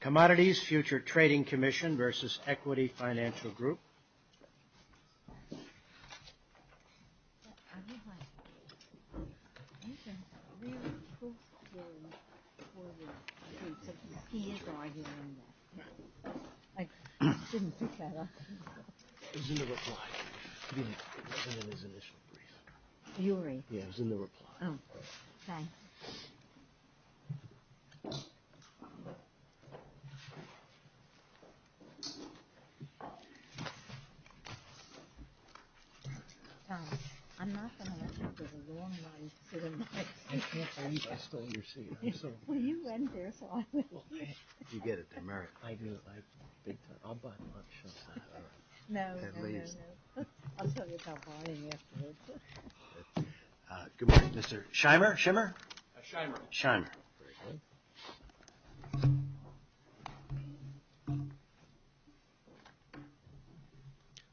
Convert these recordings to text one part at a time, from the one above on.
Commodity Futures Trading CommissionvEquity Financial Group. Equity Futures Trading CommissionvEquity Financial Group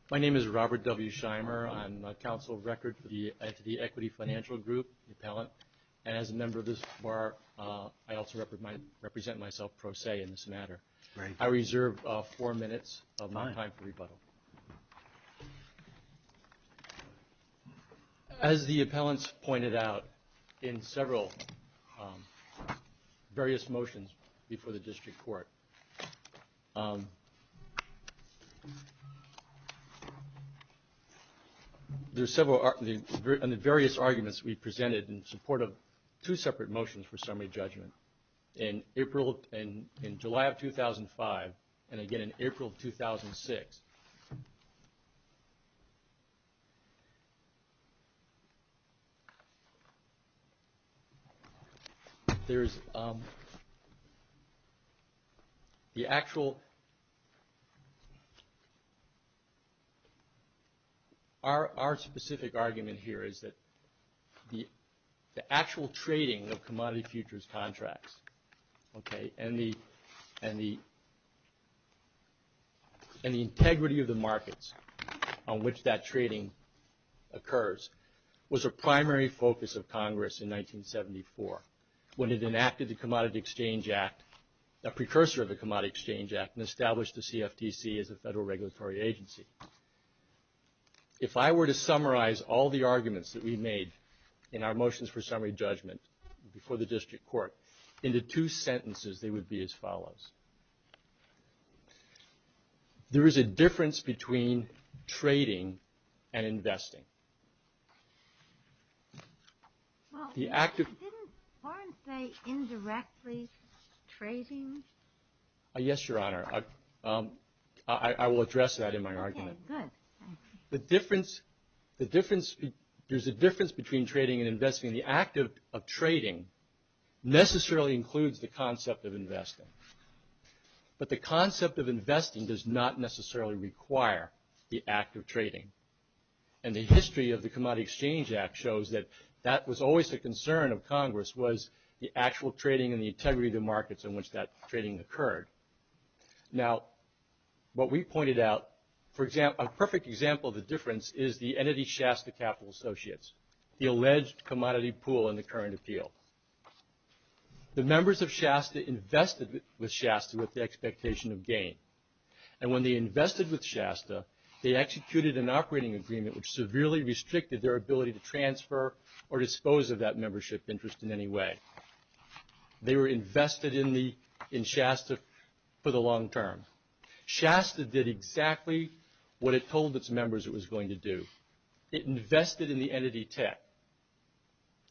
My name is Robert W. Shimer. I'm a counsel of record for the Equity Financial Group, the appellant. And as a member of this bar, I also represent myself pro se in this matter. I reserve four minutes of my time for rebuttal. As the appellants pointed out in several various motions before the district court, there are several, in the various arguments we presented in support of two separate motions for summary judgment in April, in July of 2005 and again in April of 2006. There's the actual, our specific argument here is that the actual trading of commodity futures contracts, okay, and the integrity of the markets on which that trading occurs was a primary focus of Congress in 1974 when it enacted the Commodity Exchange Act, a precursor of the Commodity Exchange Act, and established the CFTC as a federal regulatory agency. If I were to summarize all the arguments that we made in our motions for summary judgment before the district court into two sentences, they would be as follows. There is a difference between trading and investing. The act of... Yes, Your Honor. I will address that in my argument. The difference, there's a difference between trading and investing. The act of trading necessarily includes the concept of investing, but the concept of investing does not necessarily require the act of trading, and the history of the Commodity Exchange Act shows that that was always a concern of Congress, was the actual trading and the integrity of the markets in which that trading occurred. Now, what we pointed out, a perfect example of the difference is the Commodity Shasta Capital Associates, the alleged commodity pool in the current appeal. The members of Shasta invested with Shasta with the expectation of gain, and when they invested with Shasta, they executed an operating agreement which severely restricted their ability to transfer or dispose of that membership interest in any way. They were invested in Shasta for the long term. Shasta did exactly what it told its members it was going to do. It invested in the Entity Tech,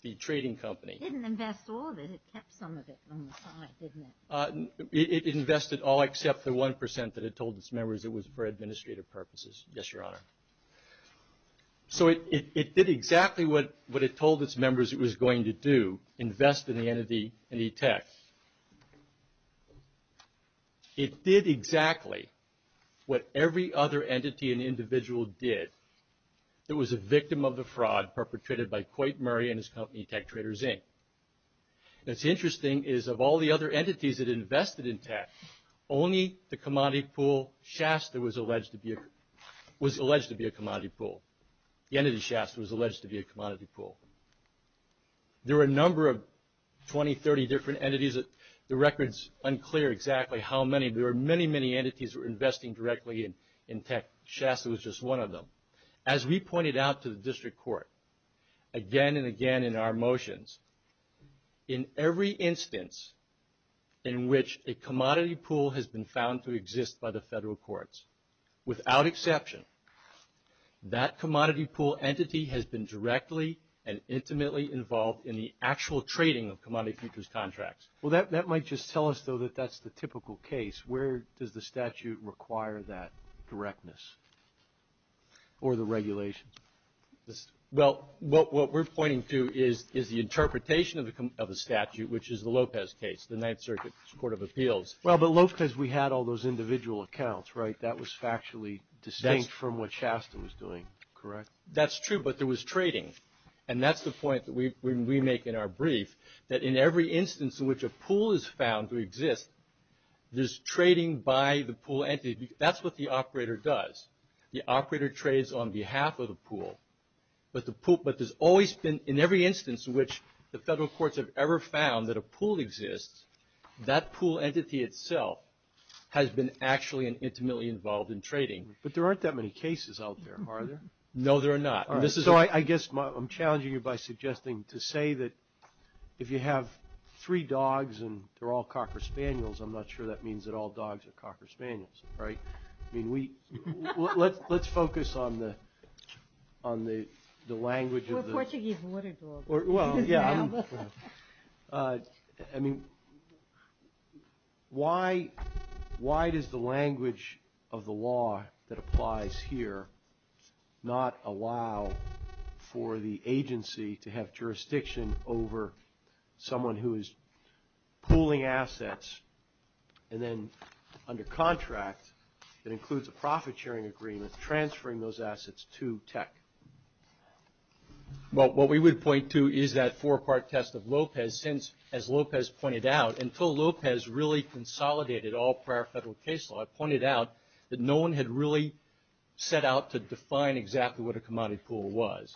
the trading company. It didn't invest all of it, it kept some of it on the side, didn't it? It invested all except the 1% that it told its members it was for administrative purposes. Yes, Your Honor. So it did exactly what it told its members it was going to do, invest in the Entity Tech. It did exactly what every other entity and individual did. It was a victim of the fraud perpetrated by Coit Murray and his company, Tech Traders, Inc. What's interesting is of all the other entities that invested in Tech, only the Commodity Pool, Shasta, was alleged to be a commodity pool. The Entity Shasta was alleged to be a commodity pool. There were a number of 20, 30 different entities. The record's unclear exactly how many. There were many, many entities that were investing directly in Tech. Shasta was just one of them. As we pointed out to the District Court again and again in our motions, in every instance in which a commodity pool has been found to exist by the federal courts, without exception, that commodity pool entity has been directly and intimately involved in the actual trading of Commodity Futures contracts. Well, that might just tell us, though, that that's the typical case. Where does the statute require that directness or the regulations? Well, what we're pointing to is the interpretation of a statute, which is the Lopez case, the Ninth Circuit Court of Appeals. Well, but Lopez, we had all those individual accounts, right? That was factually distinct from what Shasta was doing, correct? That's true, but there was trading. And that's the point that we make in our brief, that in every instance in which a pool is found to exist, there's trading by the pool entity. That's what the operator does. The operator trades on behalf of the pool. But there's always been, in every instance in which the federal courts have ever found that a pool exists, that pool entity itself has been actually and intimately involved in trading. But there aren't that many cases out there, are there? No, there are not. So I guess I'm challenging you by suggesting to say that if you have three dogs and they're all cocker spaniels, I'm not sure that means that all dogs are cocker spaniels, right? I mean, let's focus on the language of the... We're Portuguese water dogs. I mean, why does the language of the law that applies here not allow for the agency to have jurisdiction over someone who is pooling assets, and then under contract, it includes a profit-sharing agreement transferring those assets to tech? Well, what we would point to is that four-part test of Lopez, since, as Lopez pointed out, until Lopez really consolidated all prior federal case law, it pointed out that no one had really set out to define exactly what a commodity pool was.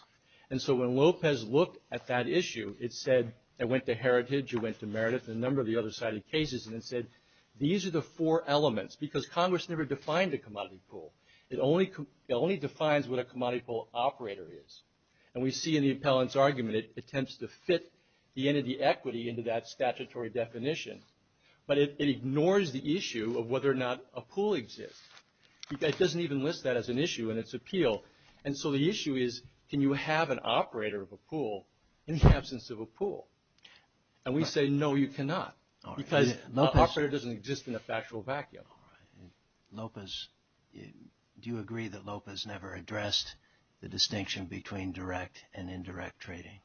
And so when Lopez looked at that issue, it said it went to Heritage, it went to Meredith, and a number of the other cited cases, and it said these are the four elements because Congress never defined a commodity pool. It only defines what a commodity pool operator is. And we see in the appellant's argument it attempts to fit the end of the equity into that statutory definition, but it ignores the issue of whether or not a pool exists. It doesn't even list that as an issue in its appeal. And so the issue is, can you have an operator of a pool in the absence of a pool? And we say, no, you cannot, because an operator doesn't exist in a factual vacuum. Do you agree that Lopez never addressed the distinction between direct and indirect trading?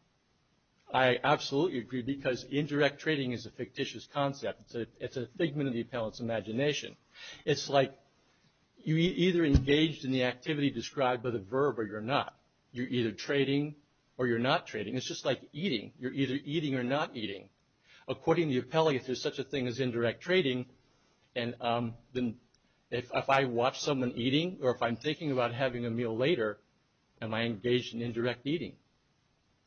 I absolutely agree, because indirect trading is a fictitious concept. It's a figment of the appellant's imagination. It's like you're either engaged in the activity described by the verb or you're not. You're either trading or you're not trading. It's just like eating. You're either eating or not eating. According to the appellant, if there's such a thing as indirect trading, if I watch someone eating or if I'm thinking about having a meal later, am I engaged in indirect eating?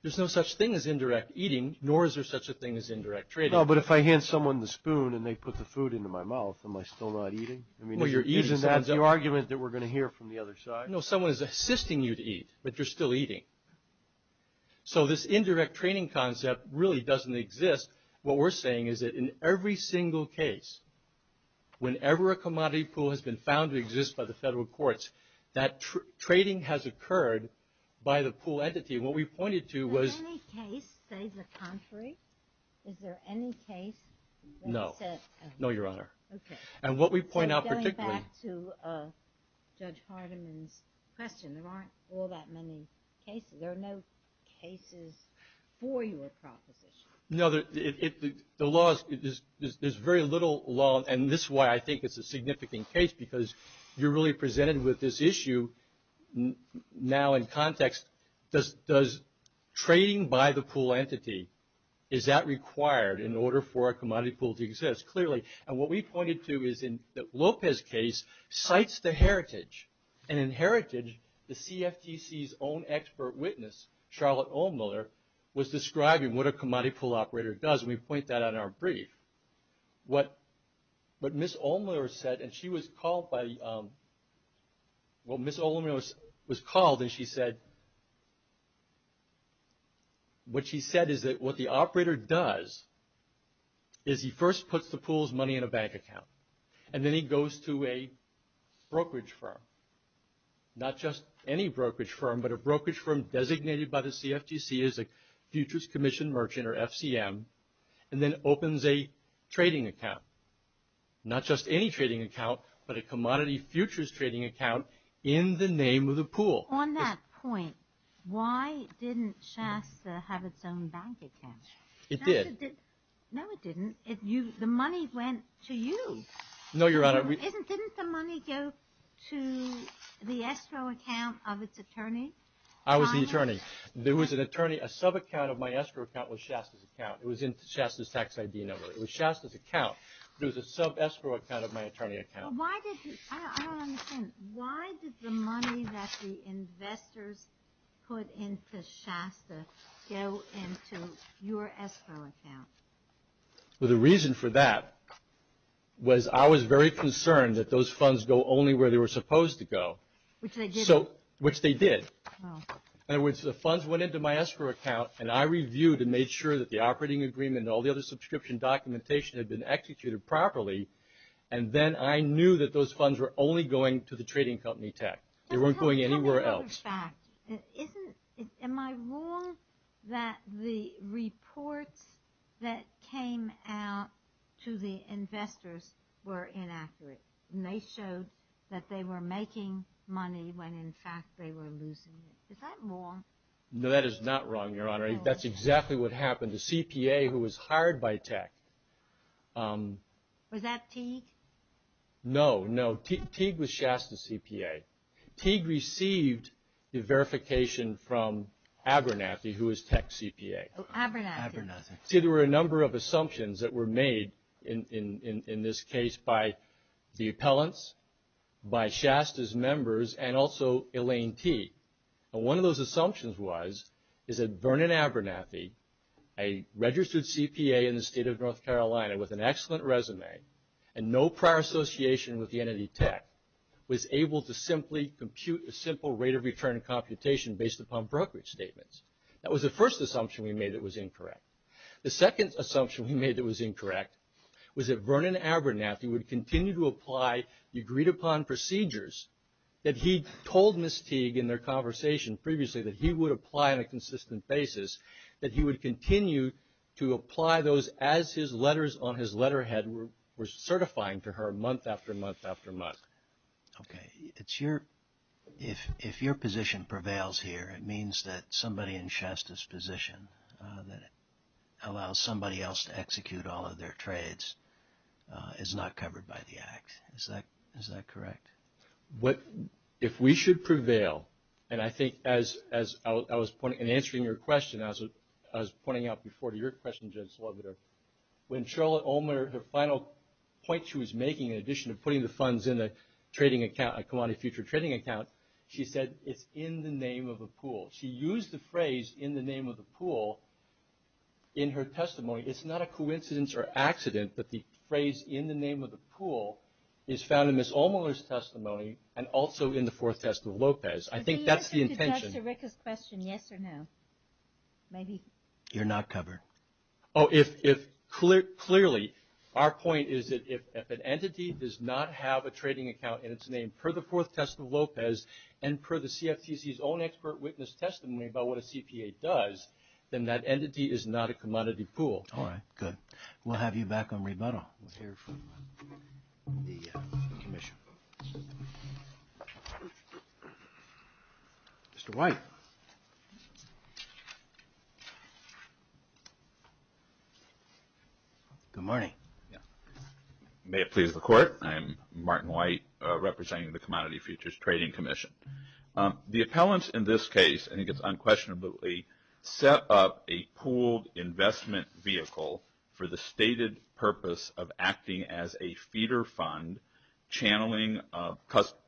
There's no such thing as indirect eating, nor is there such a thing as indirect trading. But if I hand someone the spoon and they put the food into my mouth, am I still not eating? That's the argument that we're going to hear from the other side. No, someone is assisting you to eat, but you're still eating. So this indirect trading concept really doesn't exist. What we're saying is that in every single case, whenever a commodity pool has been found to exist by the federal courts, that trading has occurred by the pool entity. Is there any case, say, the contrary? No. No, Your Honor. Going back to Judge Hardiman's question, there aren't all that many cases. There are no cases for your proposition. There's very little law, and this is why I think it's a significant case, because you're really presented with this issue now in context. Does trading by the pool entity, is that required in order for a commodity pool to exist? Clearly, and what we pointed to is in the Lopez case, cites the heritage. And in heritage, the CFTC's own expert witness, Charlotte Ulmler, was describing what a commodity pool operator does, and we point that out in our brief. What Ms. Ulmler said, and she was called by, well, Ms. Ulmler was called and she said, what she said is that what the operator does is he first puts the pool's money in a bank account, and then he goes to a brokerage firm. Not just any brokerage firm, but a brokerage firm designated by the CFTC as a Futures Commission Merchant, or FCM, and then opens a trading account. Not just any trading account, but a commodity futures trading account in the name of the pool. On that point, why didn't Shasta have its own bank account? It did. No, it didn't. The money went to you. Didn't the money go to the escrow account of its attorney? I was the attorney. A sub-account of my escrow account was Shasta's account. It was in Shasta's tax ID number. It was Shasta's account, but it was a sub-escrow account of my attorney account. I don't understand. Why did the money that the investors put into Shasta go into your escrow account? The reason for that was I was very concerned that those funds go only where they were supposed to go, which they did. In other words, the funds went into my escrow account, and I reviewed and made sure that the operating agreement and all the other subscription documentation had been executed properly. Then I knew that those funds were only going to the trading company tech. They weren't going anywhere else. Am I wrong that the reports that came out to the investors were inaccurate? They showed that they were making money when in fact they were losing it. Is that wrong? No, that is not wrong, Your Honor. That's exactly what happened to CPA who was hired by tech. Was that Teague? No, no. Teague was Shasta's CPA. Teague received the verification from Abernathy, who was tech CPA. See, there were a number of assumptions that were made in this case by the appellants, by Shasta's members, and also Elaine Teague. And one of those assumptions was is that Vernon Abernathy, a registered CPA in the state of North Carolina with an excellent resume and no prior association with the entity tech, was able to simply compute a simple rate of return computation based upon brokerage statements. That was the first assumption we made that was incorrect. The second assumption we made that was incorrect was that Vernon Abernathy would continue to apply agreed-upon procedures that he told Ms. Teague in their conversation previously that he would apply on a consistent basis, that he would continue to apply those as his letters on his letterhead were certifying to her month after month after month. Okay. If your position prevails here, it means that somebody in Shasta's position that allows somebody else to execute all of their trades is not covered by the Act. Is that correct? If we should prevail, and I think as I was answering your question, I was pointing out before to your question, Judge Slaviter, when Charlotte Ulmer, her final point she was making in addition to putting the funds in a trading account, a commodity future trading account, she said, it's in the name of a pool. She used the phrase, in the name of a pool, in her testimony. It's not a coincidence or accident, but the phrase, in the name of a pool, is found in Ms. Ulmer's testimony and also in the Fourth Test of Lopez. I think that's the intention. Clearly, our point is that if an entity does not have a trading account in its name per the Fourth Test of Lopez and per the CFTC's own expert witness testimony about what a CPA does, then that entity is not a commodity pool. All right. Good. We'll have you back on rebuttal. Mr. White. Good morning. May it please the Court. I'm Martin White representing the Commodity Futures Trading Commission. The appellants in this case, I think it's unquestionably, set up a pooled investment vehicle for the stated purpose of acting as a feeder fund channeling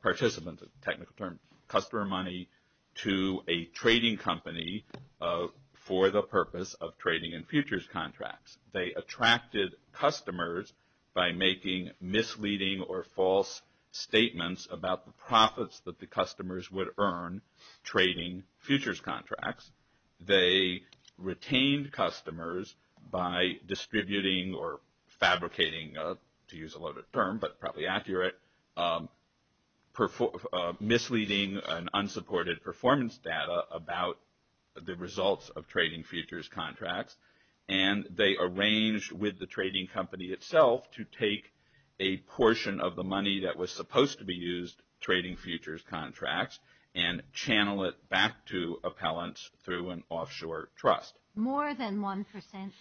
participants, technical term, customer money to a trading company for the purpose of trading in futures contracts. They attracted customers by making misleading or false statements about the profits that the customers would earn trading futures contracts. They retained customers by distributing or fabricating, to use a loaded term, but probably accurate, misleading and unsupported performance data about the results of trading futures contracts. And they arranged with the trading company itself to take a portion of the money that was supposed to be used trading futures contracts and channel it back to appellants through an offshore trust. More than one percent,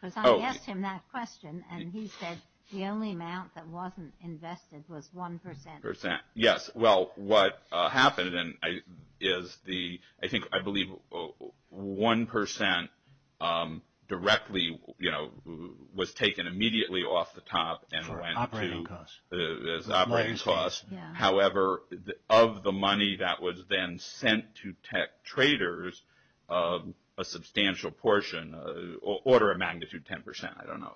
because I asked him that question and he said the only amount that wasn't invested was one percent. Yes. Well, what happened is the, I think, I believe one percent directly, you know, was taken immediately off the top and went to operating costs. However, of the money that was then sent to tech traders, a substantial portion, order of magnitude ten percent, I don't know,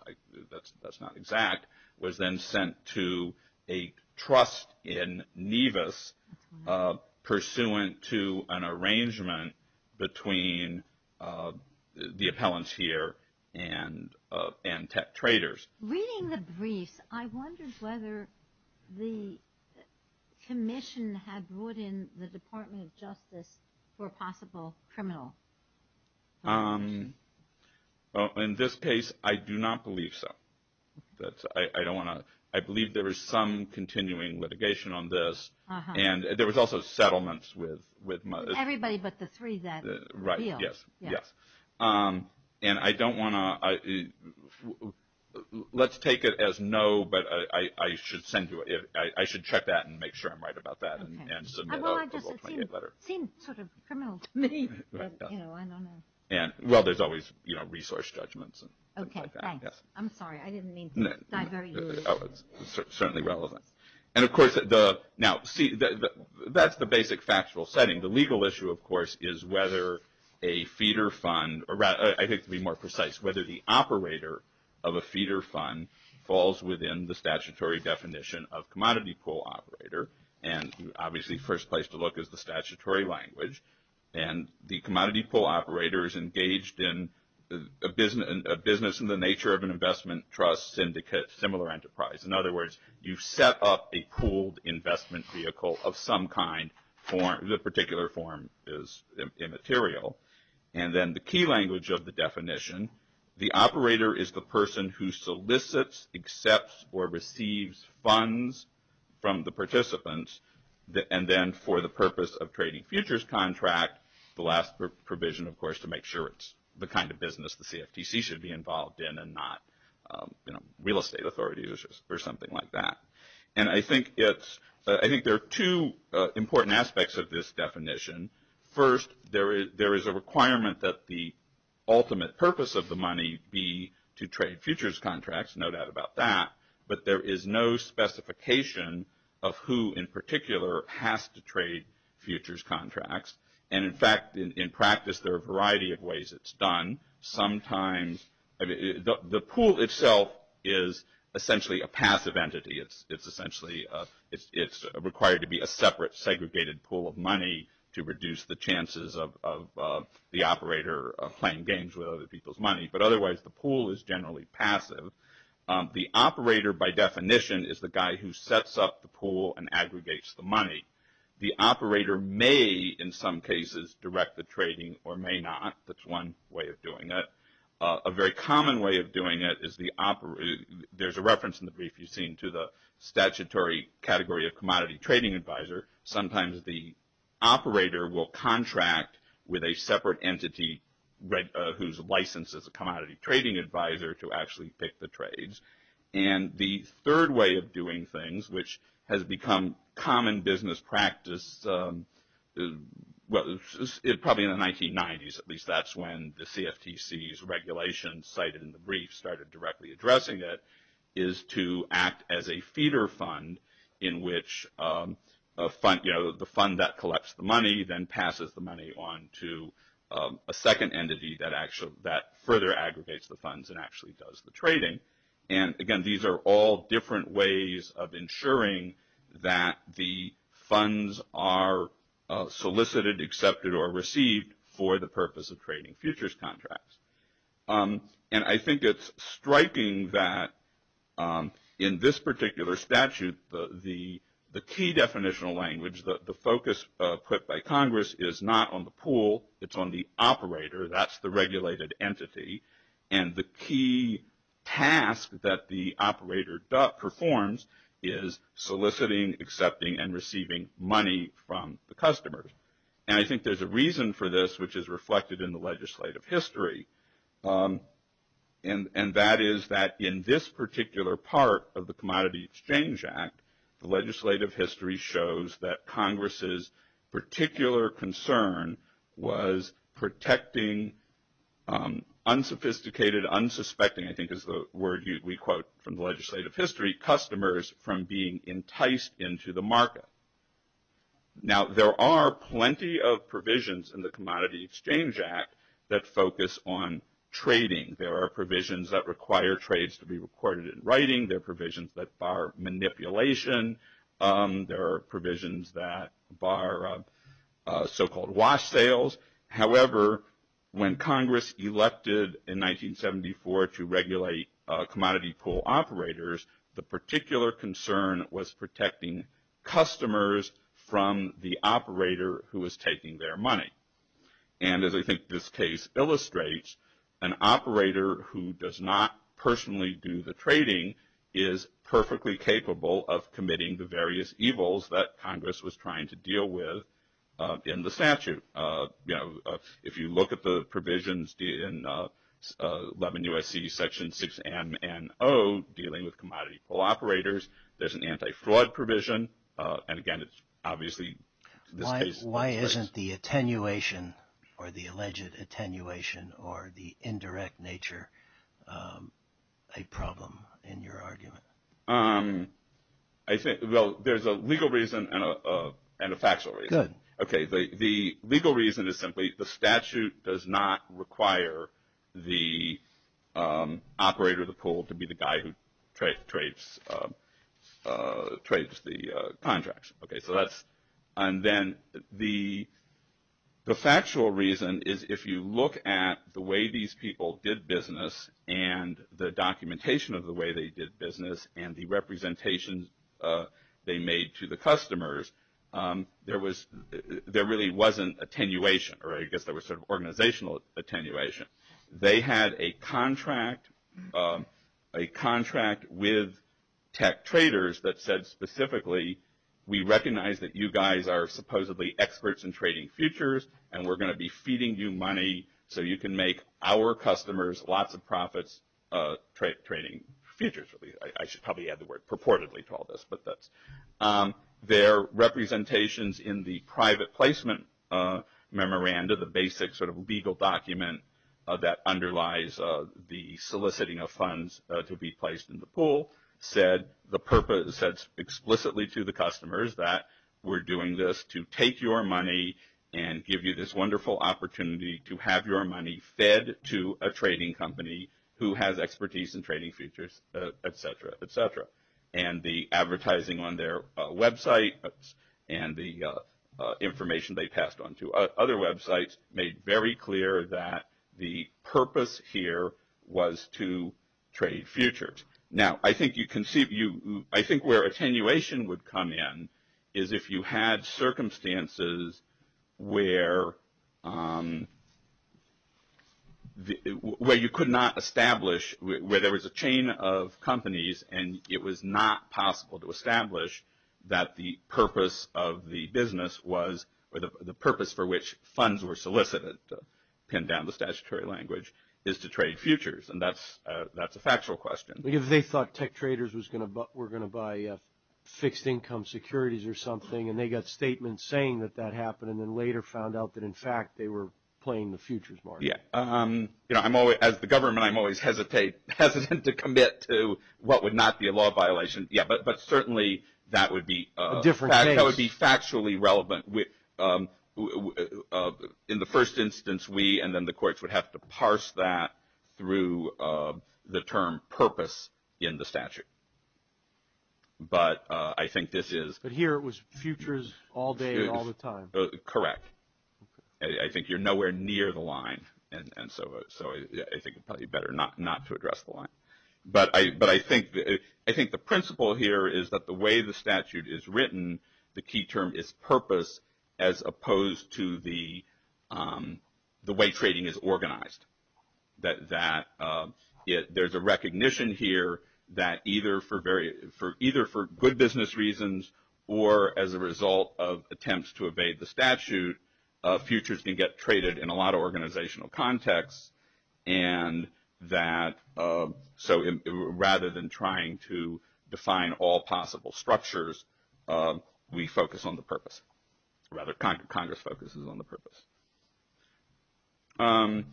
that's not exact, was then sent to a trust in Nevis, pursuant to an arrangement between the appellants here and tech traders. Reading the briefs, I wondered whether the commission had brought in the Department of Justice for a possible criminal investigation. In this case, I do not believe so. I don't want to, I believe there is some continuing litigation on this and there was also settlements with. Everybody but the three that appealed. Right, yes, yes. And I don't want to, let's take it as no, but I should send you, I should check that and make sure I'm right about that and submit a World Trade letter. Well, I just, it seemed sort of criminal to me. Well, there's always, you know, resource judgments and things like that. Okay, thanks. I'm sorry, I didn't mean to dive very deep. Oh, it's certainly relevant. And of course, now, see, that's the basic factual setting. The legal issue, of course, is whether a feeder fund, I think to be more precise, whether the operator of a feeder fund falls within the statutory definition of commodity pool operator. And obviously, first place to look is the statutory language. And the commodity pool operator is engaged in a business in the nature of an investment trust syndicate, similar enterprise. In other words, you've set up a pooled investment vehicle of some kind. The particular form is immaterial. And then the key language of the definition, the operator is the person who solicits, accepts, or receives funds from the participants. And then for the purpose of trading futures contract, the last provision, of course, to make sure it's the kind of business the CFTC should be involved in and not, you know, real estate authorities or something like that. And I think there are two important aspects of this definition. First, there is a requirement that the ultimate purpose of the money be to trade futures contracts. No doubt about that. But there is no specification of who in particular has to trade futures contracts. And in fact, in practice, there are a variety of ways it's done. Sometimes the pool itself is essentially a passive entity. It's essentially required to be a separate segregated pool of money to reduce the chances of the operator playing games with other people's money. But otherwise, the pool is generally passive. The operator, by definition, is the guy who sets up the pool and aggregates the money. The operator may, in some cases, direct the trading or may not. That's one way of doing it. A very common way of doing it is the operator. There's a reference in the brief you've seen to the statutory category of commodity trading advisor. Sometimes the operator will contract with a separate entity whose license is a commodity trading advisor to actually pick the trades. And the third way of doing things, which has become common business practice probably in the 1990s, at least that's when the CFTC's regulations cited in the brief started directly addressing it, is to act as a feeder fund in which the fund that collects the money then passes the money on to a second entity that further aggregates the funds and actually does the trading. And, again, these are all different ways of ensuring that the funds are solicited, accepted, or received for the purpose of trading futures contracts. And I think it's striking that in this particular statute the key definitional language, the focus put by Congress, is not on the pool. It's on the operator. That's the regulated entity. And the key task that the operator performs is soliciting, accepting, and receiving money from the customers. And I think there's a reason for this, which is reflected in the legislative history, and that is that in this particular part of the Commodity Exchange Act, the legislative history shows that Congress's particular concern was protecting unsophisticated, unsuspecting, I think is the word we quote from the legislative history, customers from being enticed into the market. Now, there are plenty of provisions in the Commodity Exchange Act that focus on trading. There are provisions that require trades to be recorded in writing. There are provisions that bar manipulation. There are provisions that bar so-called wash sales. However, when Congress elected in 1974 to regulate commodity pool operators, the particular concern was protecting customers from the operator who was taking their money. And as I think this case illustrates, an operator who does not personally do the trading is perfectly capable of committing the various evils that Congress was trying to deal with in the statute. You know, if you look at the provisions in 11 U.S.C. Section 6MNO dealing with commodity pool operators, there's an anti-fraud provision. And again, it's obviously this case illustrates. Why isn't the attenuation or the alleged attenuation or the indirect nature a problem in your argument? I think, well, there's a legal reason and a factual reason. Good. Okay. The legal reason is simply the statute does not require the operator of the pool to be the guy who trades the contracts. Okay. So that's – and then the factual reason is if you look at the way these people did business and the documentation of the way they did business and the representations they made to the customers, there really wasn't attenuation or I guess there was sort of organizational attenuation. They had a contract with tech traders that said specifically, we recognize that you guys are supposedly experts in trading futures and we're going to be feeding you money so you can make our customers lots of profits trading futures. I should probably add the word purportedly to all this. Their representations in the private placement memorandum, the basic sort of legal document that underlies the soliciting of funds to be placed in the pool, said the purpose explicitly to the customers that we're doing this to take your money and give you this wonderful opportunity to have your money fed to a trading company who has expertise in trading futures, et cetera, et cetera. And the advertising on their website and the information they passed on to other websites made very clear that the purpose here was to trade futures. Now I think you can see – I think where attenuation would come in is if you had circumstances where you could not establish, where there was a chain of companies and it was not possible to establish that the purpose of the business was, or the purpose for which funds were solicited, to pin down the statutory language, is to trade futures. And that's a factual question. Because they thought tech traders were going to buy fixed income securities or something and they got statements saying that that happened and then later found out that in fact they were playing the futures market. As the government, I'm always hesitant to commit to what would not be a law violation. But certainly that would be factually relevant. In the first instance, we and then the courts would have to parse that through the term purpose in the statute. But I think this is – But here it was futures all day, all the time. Correct. I think you're nowhere near the line. And so I think it's probably better not to address the line. But I think the principle here is that the way the statute is written, the key term is purpose as opposed to the way trading is organized. That there's a recognition here that either for good business reasons or as a result of attempts to evade the statute, futures can get traded in a lot of organizational contexts. And so rather than trying to define all possible structures, we focus on the purpose. Congress focuses on the purpose. And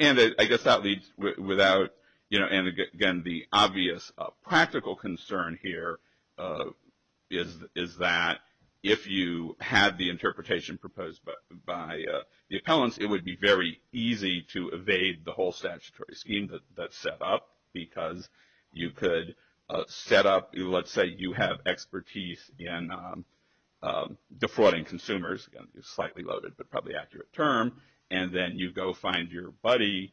I guess that leads without – and again, the obvious practical concern here is that if you had the interpretation proposed by the appellants, it would be very easy to evade the whole statutory scheme that's set up because you could set up – Again, it's slightly loaded but probably accurate term. And then you go find your buddy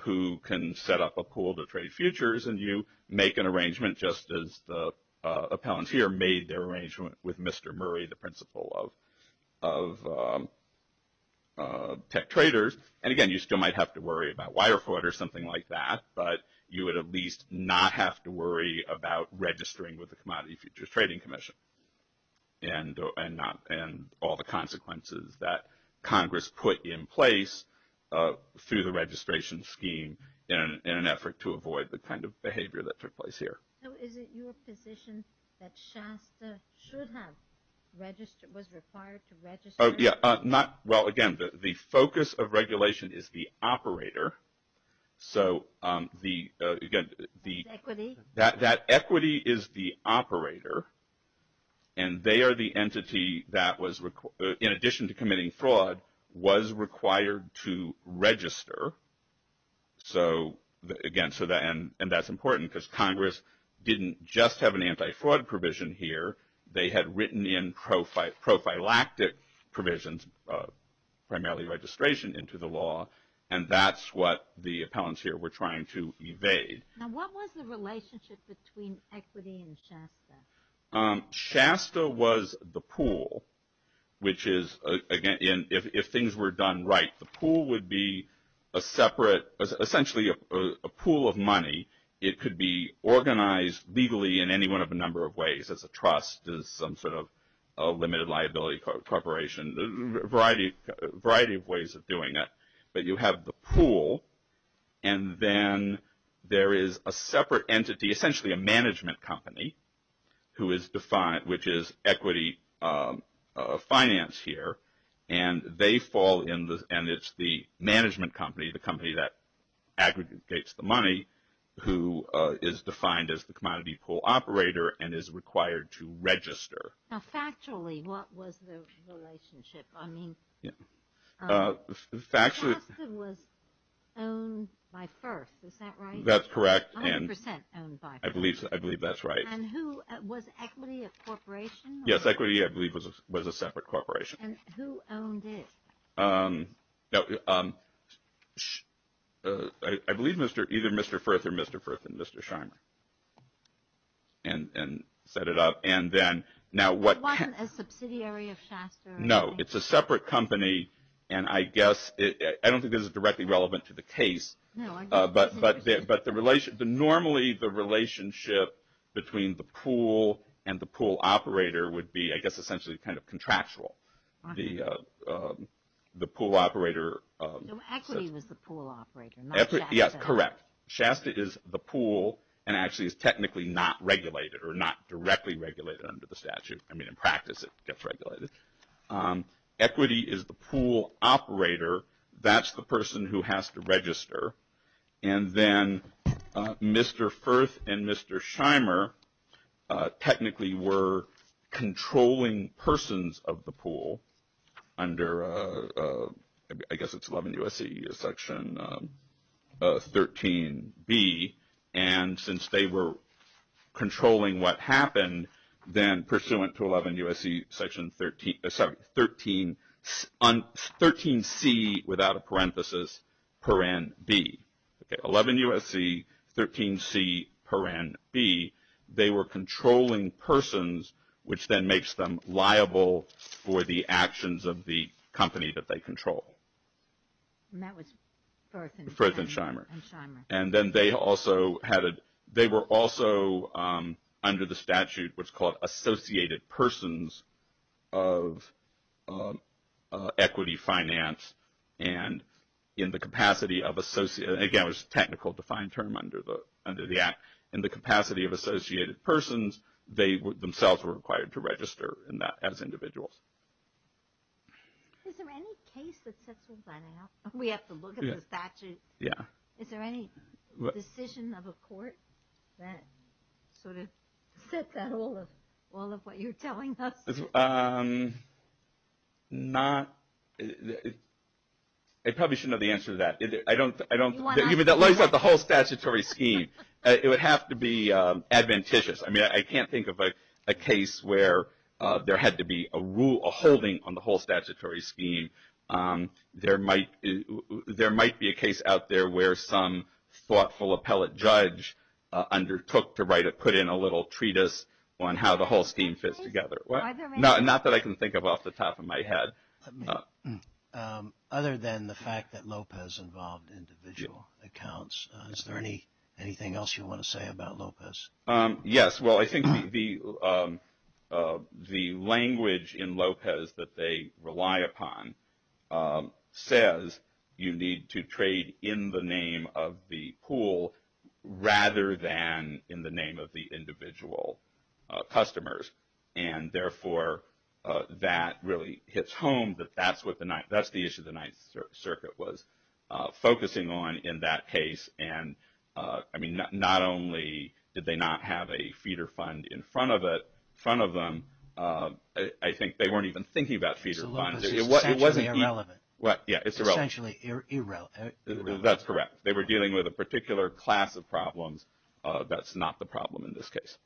who can set up a pool to trade futures and you make an arrangement just as the appellant here made their arrangement with Mr. Murray, the principal of tech traders. And again, you still might have to worry about wire fraud or something like that, but you would at least not have to worry about registering with the Commodity Futures Trading Commission and all the consequences that Congress put in place through the registration scheme in an effort to avoid the kind of behavior that took place here. So is it your position that Shasta should have registered – was required to register? Yeah. Well, again, the focus of regulation is the operator. So the – again, the – What's equity? That equity is the operator, and they are the entity that was – in addition to committing fraud, was required to register. So again, so that – and that's important because Congress didn't just have an anti-fraud provision here. They had written in prophylactic provisions, primarily registration, into the law. And that's what the appellants here were trying to evade. Now, what was the relationship between equity and Shasta? Shasta was the pool, which is – again, if things were done right, the pool would be a separate – essentially a pool of money. It could be organized legally in any one of a number of ways. It could be organized as a trust, as some sort of limited liability corporation, a variety of ways of doing it. But you have the pool, and then there is a separate entity, essentially a management company, who is defined – which is equity finance here. And they fall in the – and it's the management company, the company that aggregates the money, who is defined as the commodity pool operator and is required to register. Now, factually, what was the relationship? I mean, Shasta was owned by Firth, is that right? That's correct. A hundred percent owned by Firth. I believe that's right. And who – was equity a corporation? Yes, equity, I believe, was a separate corporation. And who owned it? No, I believe either Mr. Firth or Mr. Firth and Mr. Shimer and set it up. And then now what – It wasn't a subsidiary of Shasta or anything? No, it's a separate company, and I guess – I don't think this is directly relevant to the case. But normally the relationship between the pool and the pool operator would be, I guess, essentially kind of contractual. The pool operator – So equity was the pool operator, not Shasta? Yes, correct. Shasta is the pool and actually is technically not regulated or not directly regulated under the statute. I mean, in practice, it gets regulated. Equity is the pool operator. That's the person who has to register. And then Mr. Firth and Mr. Shimer technically were controlling persons of the pool under – I guess it's 11 U.S.C. section 13B. And since they were controlling what happened, then pursuant to 11 U.S.C. section 13 – 13C without a parenthesis, paren B. Okay, 11 U.S.C., 13C, paren B. They were controlling persons, which then makes them liable for the actions of the company that they control. And that was Firth and Shimer? Firth and Shimer. And then they also had a – they were also under the statute what's called associated persons of equity finance. And in the capacity of – again, it was a technical defined term under the act. In the capacity of associated persons, they themselves were required to register as individuals. Is there any case that sets one that out? We have to look at the statute? Yeah. Is there any decision of a court that sort of sets out all of what you're telling us? Not – I probably shouldn't have the answer to that. I don't – that lays out the whole statutory scheme. It would have to be adventitious. I mean, I can't think of a case where there had to be a holding on the whole statutory scheme. There might be a case out there where some thoughtful appellate judge undertook to write or put in a little treatise on how the whole scheme fits together. Not that I can think of off the top of my head. Other than the fact that Lopez involved individual accounts, is there anything else you want to say about Lopez? Yes. Well, I think the language in Lopez that they rely upon says you need to trade in the name of the pool rather than in the name of the individual customers. And therefore, that really hits home that that's what the – that's the issue the Ninth Circuit was focusing on in that case. And, I mean, not only did they not have a feeder fund in front of them, I think they weren't even thinking about feeder funds. So Lopez is essentially irrelevant. Yeah, it's irrelevant. Essentially irrelevant. That's correct. They were dealing with a particular class of problems. That's not the problem in this case.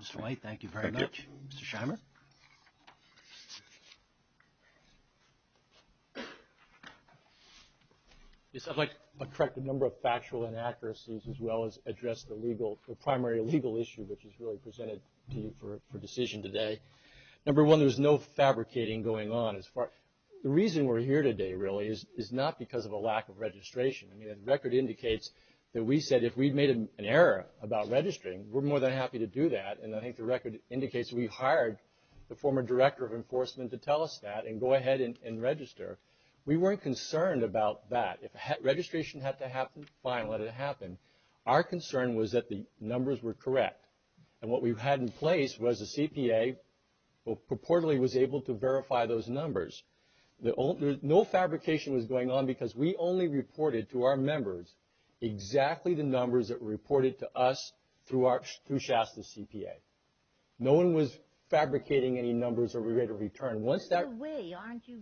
Mr. White, thank you very much. Thank you. Mr. Scheimer? Yes, I'd like to correct a number of factual inaccuracies as well as address the legal – the primary legal issue which is really presented to you for decision today. Number one, there was no fabricating going on as far – the reason we're here today really is not because of a lack of registration. I mean, the record indicates that we said if we'd made an error about registering, we're more than happy to do that. And I think the record indicates we hired the former director of enforcement to tell us that and go ahead and register. We weren't concerned about that. If registration had to happen, fine, let it happen. Our concern was that the numbers were correct. And what we had in place was the CPA purportedly was able to verify those numbers. No fabrication was going on because we only reported to our members exactly the numbers that were reported to us through Shasta's CPA. No one was fabricating any numbers that we were going to return. Once that – By the way, aren't you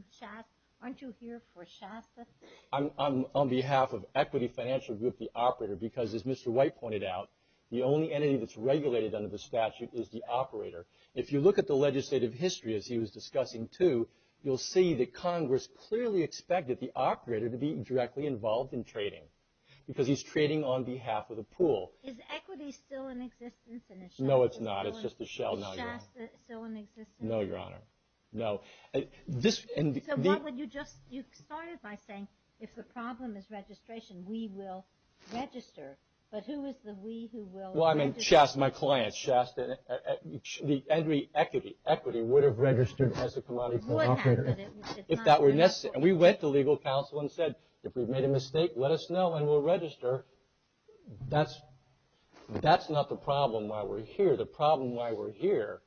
here for Shasta? I'm on behalf of Equity Financial Group, the operator, because as Mr. White pointed out, the only entity that's regulated under the statute is the operator. If you look at the legislative history, as he was discussing too, you'll see that Congress clearly expected the operator to be directly involved in trading because he's trading on behalf of the pool. Is Equity still in existence? No, it's not. It's just a shell now. Is Shasta still in existence? No, Your Honor. No. So what would you just – you started by saying if the problem is registration, we will register. But who is the we who will register? Well, I mean Shasta, my client, Shasta. Equity would have registered as a commodity operator if that were necessary. And we went to legal counsel and said, if we've made a mistake, let us know and we'll register. That's not the problem why we're here. The problem why we're here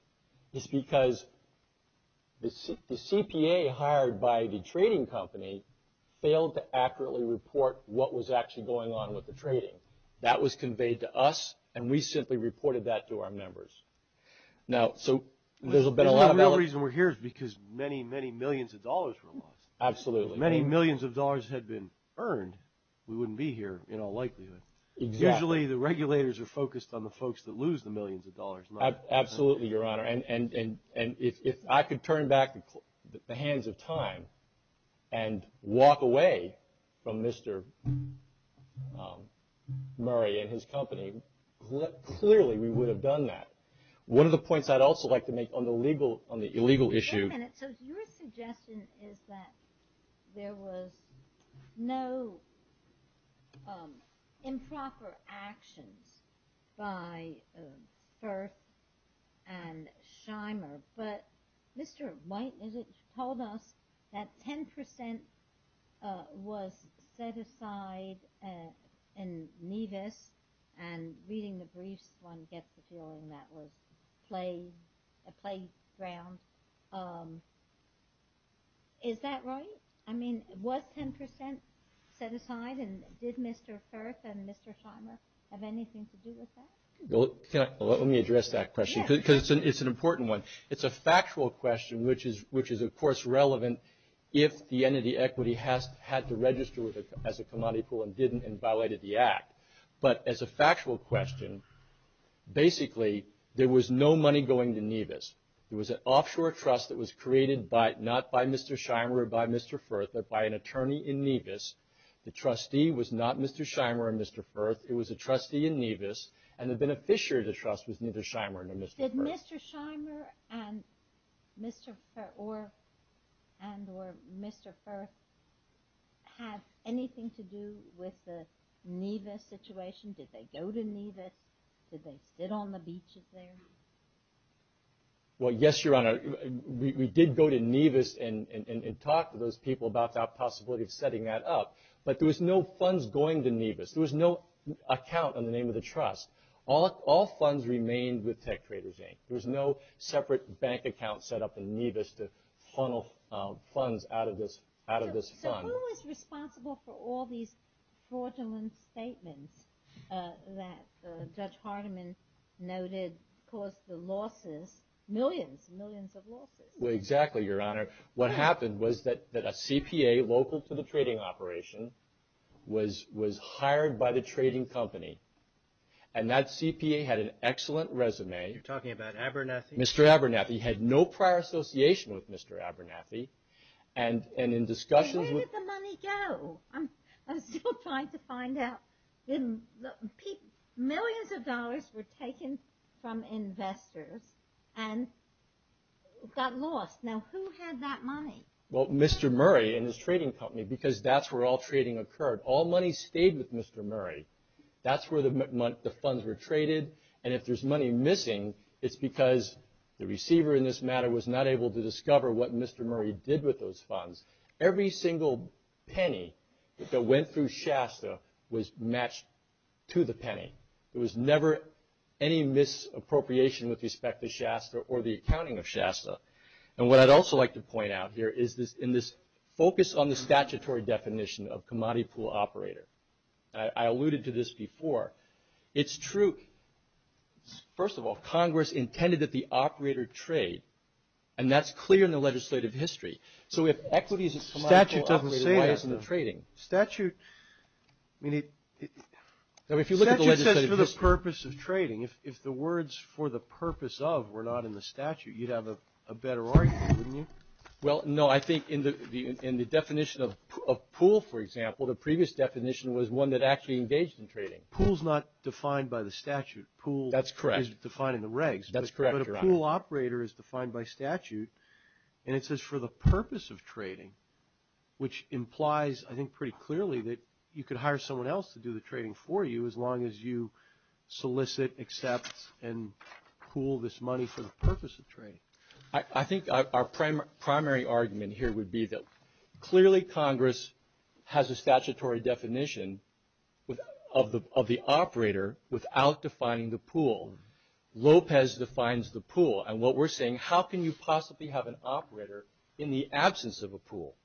is because the CPA hired by the trading company failed to accurately report what was actually going on with the trading. That was conveyed to us, and we simply reported that to our members. Now, so there's been a lot of – The reason we're here is because many, many millions of dollars were lost. Absolutely. If many millions of dollars had been earned, we wouldn't be here in all likelihood. Exactly. Usually the regulators are focused on the folks that lose the millions of dollars. Absolutely, Your Honor. And if I could turn back the hands of time and walk away from Mr. Murray and his company, clearly we would have done that. One of the points I'd also like to make on the legal issue – One minute. So your suggestion is that there was no improper actions by Firth and Shimer, but Mr. White told us that 10 percent was set aside in Nevis, and reading the briefs, one gets the feeling that was a playground. Is that right? I mean, was 10 percent set aside, and did Mr. Firth and Mr. Shimer have anything to do with that? Let me address that question because it's an important one. It's a factual question, which is, of course, relevant if the entity, Equity, had to register as a commodity pool and didn't and violated the Act. But as a factual question, basically there was no money going to Nevis. It was an offshore trust that was created not by Mr. Shimer or by Mr. Firth, but by an attorney in Nevis. The trustee was not Mr. Shimer or Mr. Firth. It was a trustee in Nevis, and the beneficiary of the trust was neither Shimer nor Mr. Firth. Did Mr. Shimer and or Mr. Firth have anything to do with the Nevis situation? Did they go to Nevis? Did they sit on the beaches there? Well, yes, Your Honor. We did go to Nevis and talk to those people about that possibility of setting that up, but there was no funds going to Nevis. There was no account on the name of the trust. All funds remained with TechTraders, Inc. There was no separate bank account set up in Nevis to funnel funds out of this fund. So who was responsible for all these fraudulent statements that Judge Hardiman noted caused the losses, millions, millions of losses? Well, exactly, Your Honor. What happened was that a CPA local to the trading operation was hired by the trading company and that CPA had an excellent resume. You're talking about Abernathy? Mr. Abernathy had no prior association with Mr. Abernathy, and in discussions with Where did the money go? I'm still trying to find out. Millions of dollars were taken from investors and got lost. Now, who had that money? Well, Mr. Murray and his trading company because that's where all trading occurred. All money stayed with Mr. Murray. That's where the funds were traded, and if there's money missing, it's because the receiver in this matter was not able to discover what Mr. Murray did with those funds. Every single penny that went through Shasta was matched to the penny. There was never any misappropriation with respect to Shasta or the accounting of Shasta. And what I'd also like to point out here is in this focus on the statutory definition of commodity pool operator, I alluded to this before, it's true. First of all, Congress intended that the operator trade, and that's clear in the legislative history. So if equity is a commodity operator, why isn't it trading? Statute doesn't say that. Statute, I mean, if you look at the legislative history. Statute says for the purpose of trading. If the words for the purpose of were not in the statute, you'd have a better argument, wouldn't you? Well, no. I think in the definition of pool, for example, the previous definition was one that actually engaged in trading. Pool is not defined by the statute. That's correct. Pool is defined in the regs. That's correct. But a pool operator is defined by statute, and it says for the purpose of trading, which implies, I think, pretty clearly that you could hire someone else to do the trading for you as long as you solicit, accept, and pool this money for the purpose of trading. I think our primary argument here would be that clearly Congress has a statutory definition of the operator without defining the pool. Lopez defines the pool. And what we're saying, how can you possibly have an operator in the absence of a pool?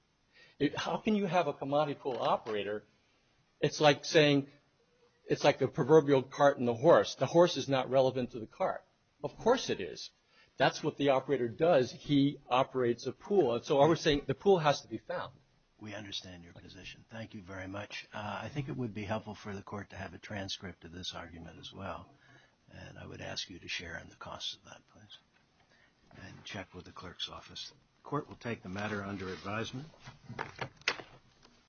How can you have a commodity pool operator? It's like saying, it's like the proverbial cart and the horse. The horse is not relevant to the cart. Of course it is. That's what the operator does. He operates a pool. And so what we're saying, the pool has to be found. We understand your position. Thank you very much. I think it would be helpful for the court to have a transcript of this argument as well. And I would ask you to share in the cost of that, please, and check with the clerk's office. The court will take the matter under advisement.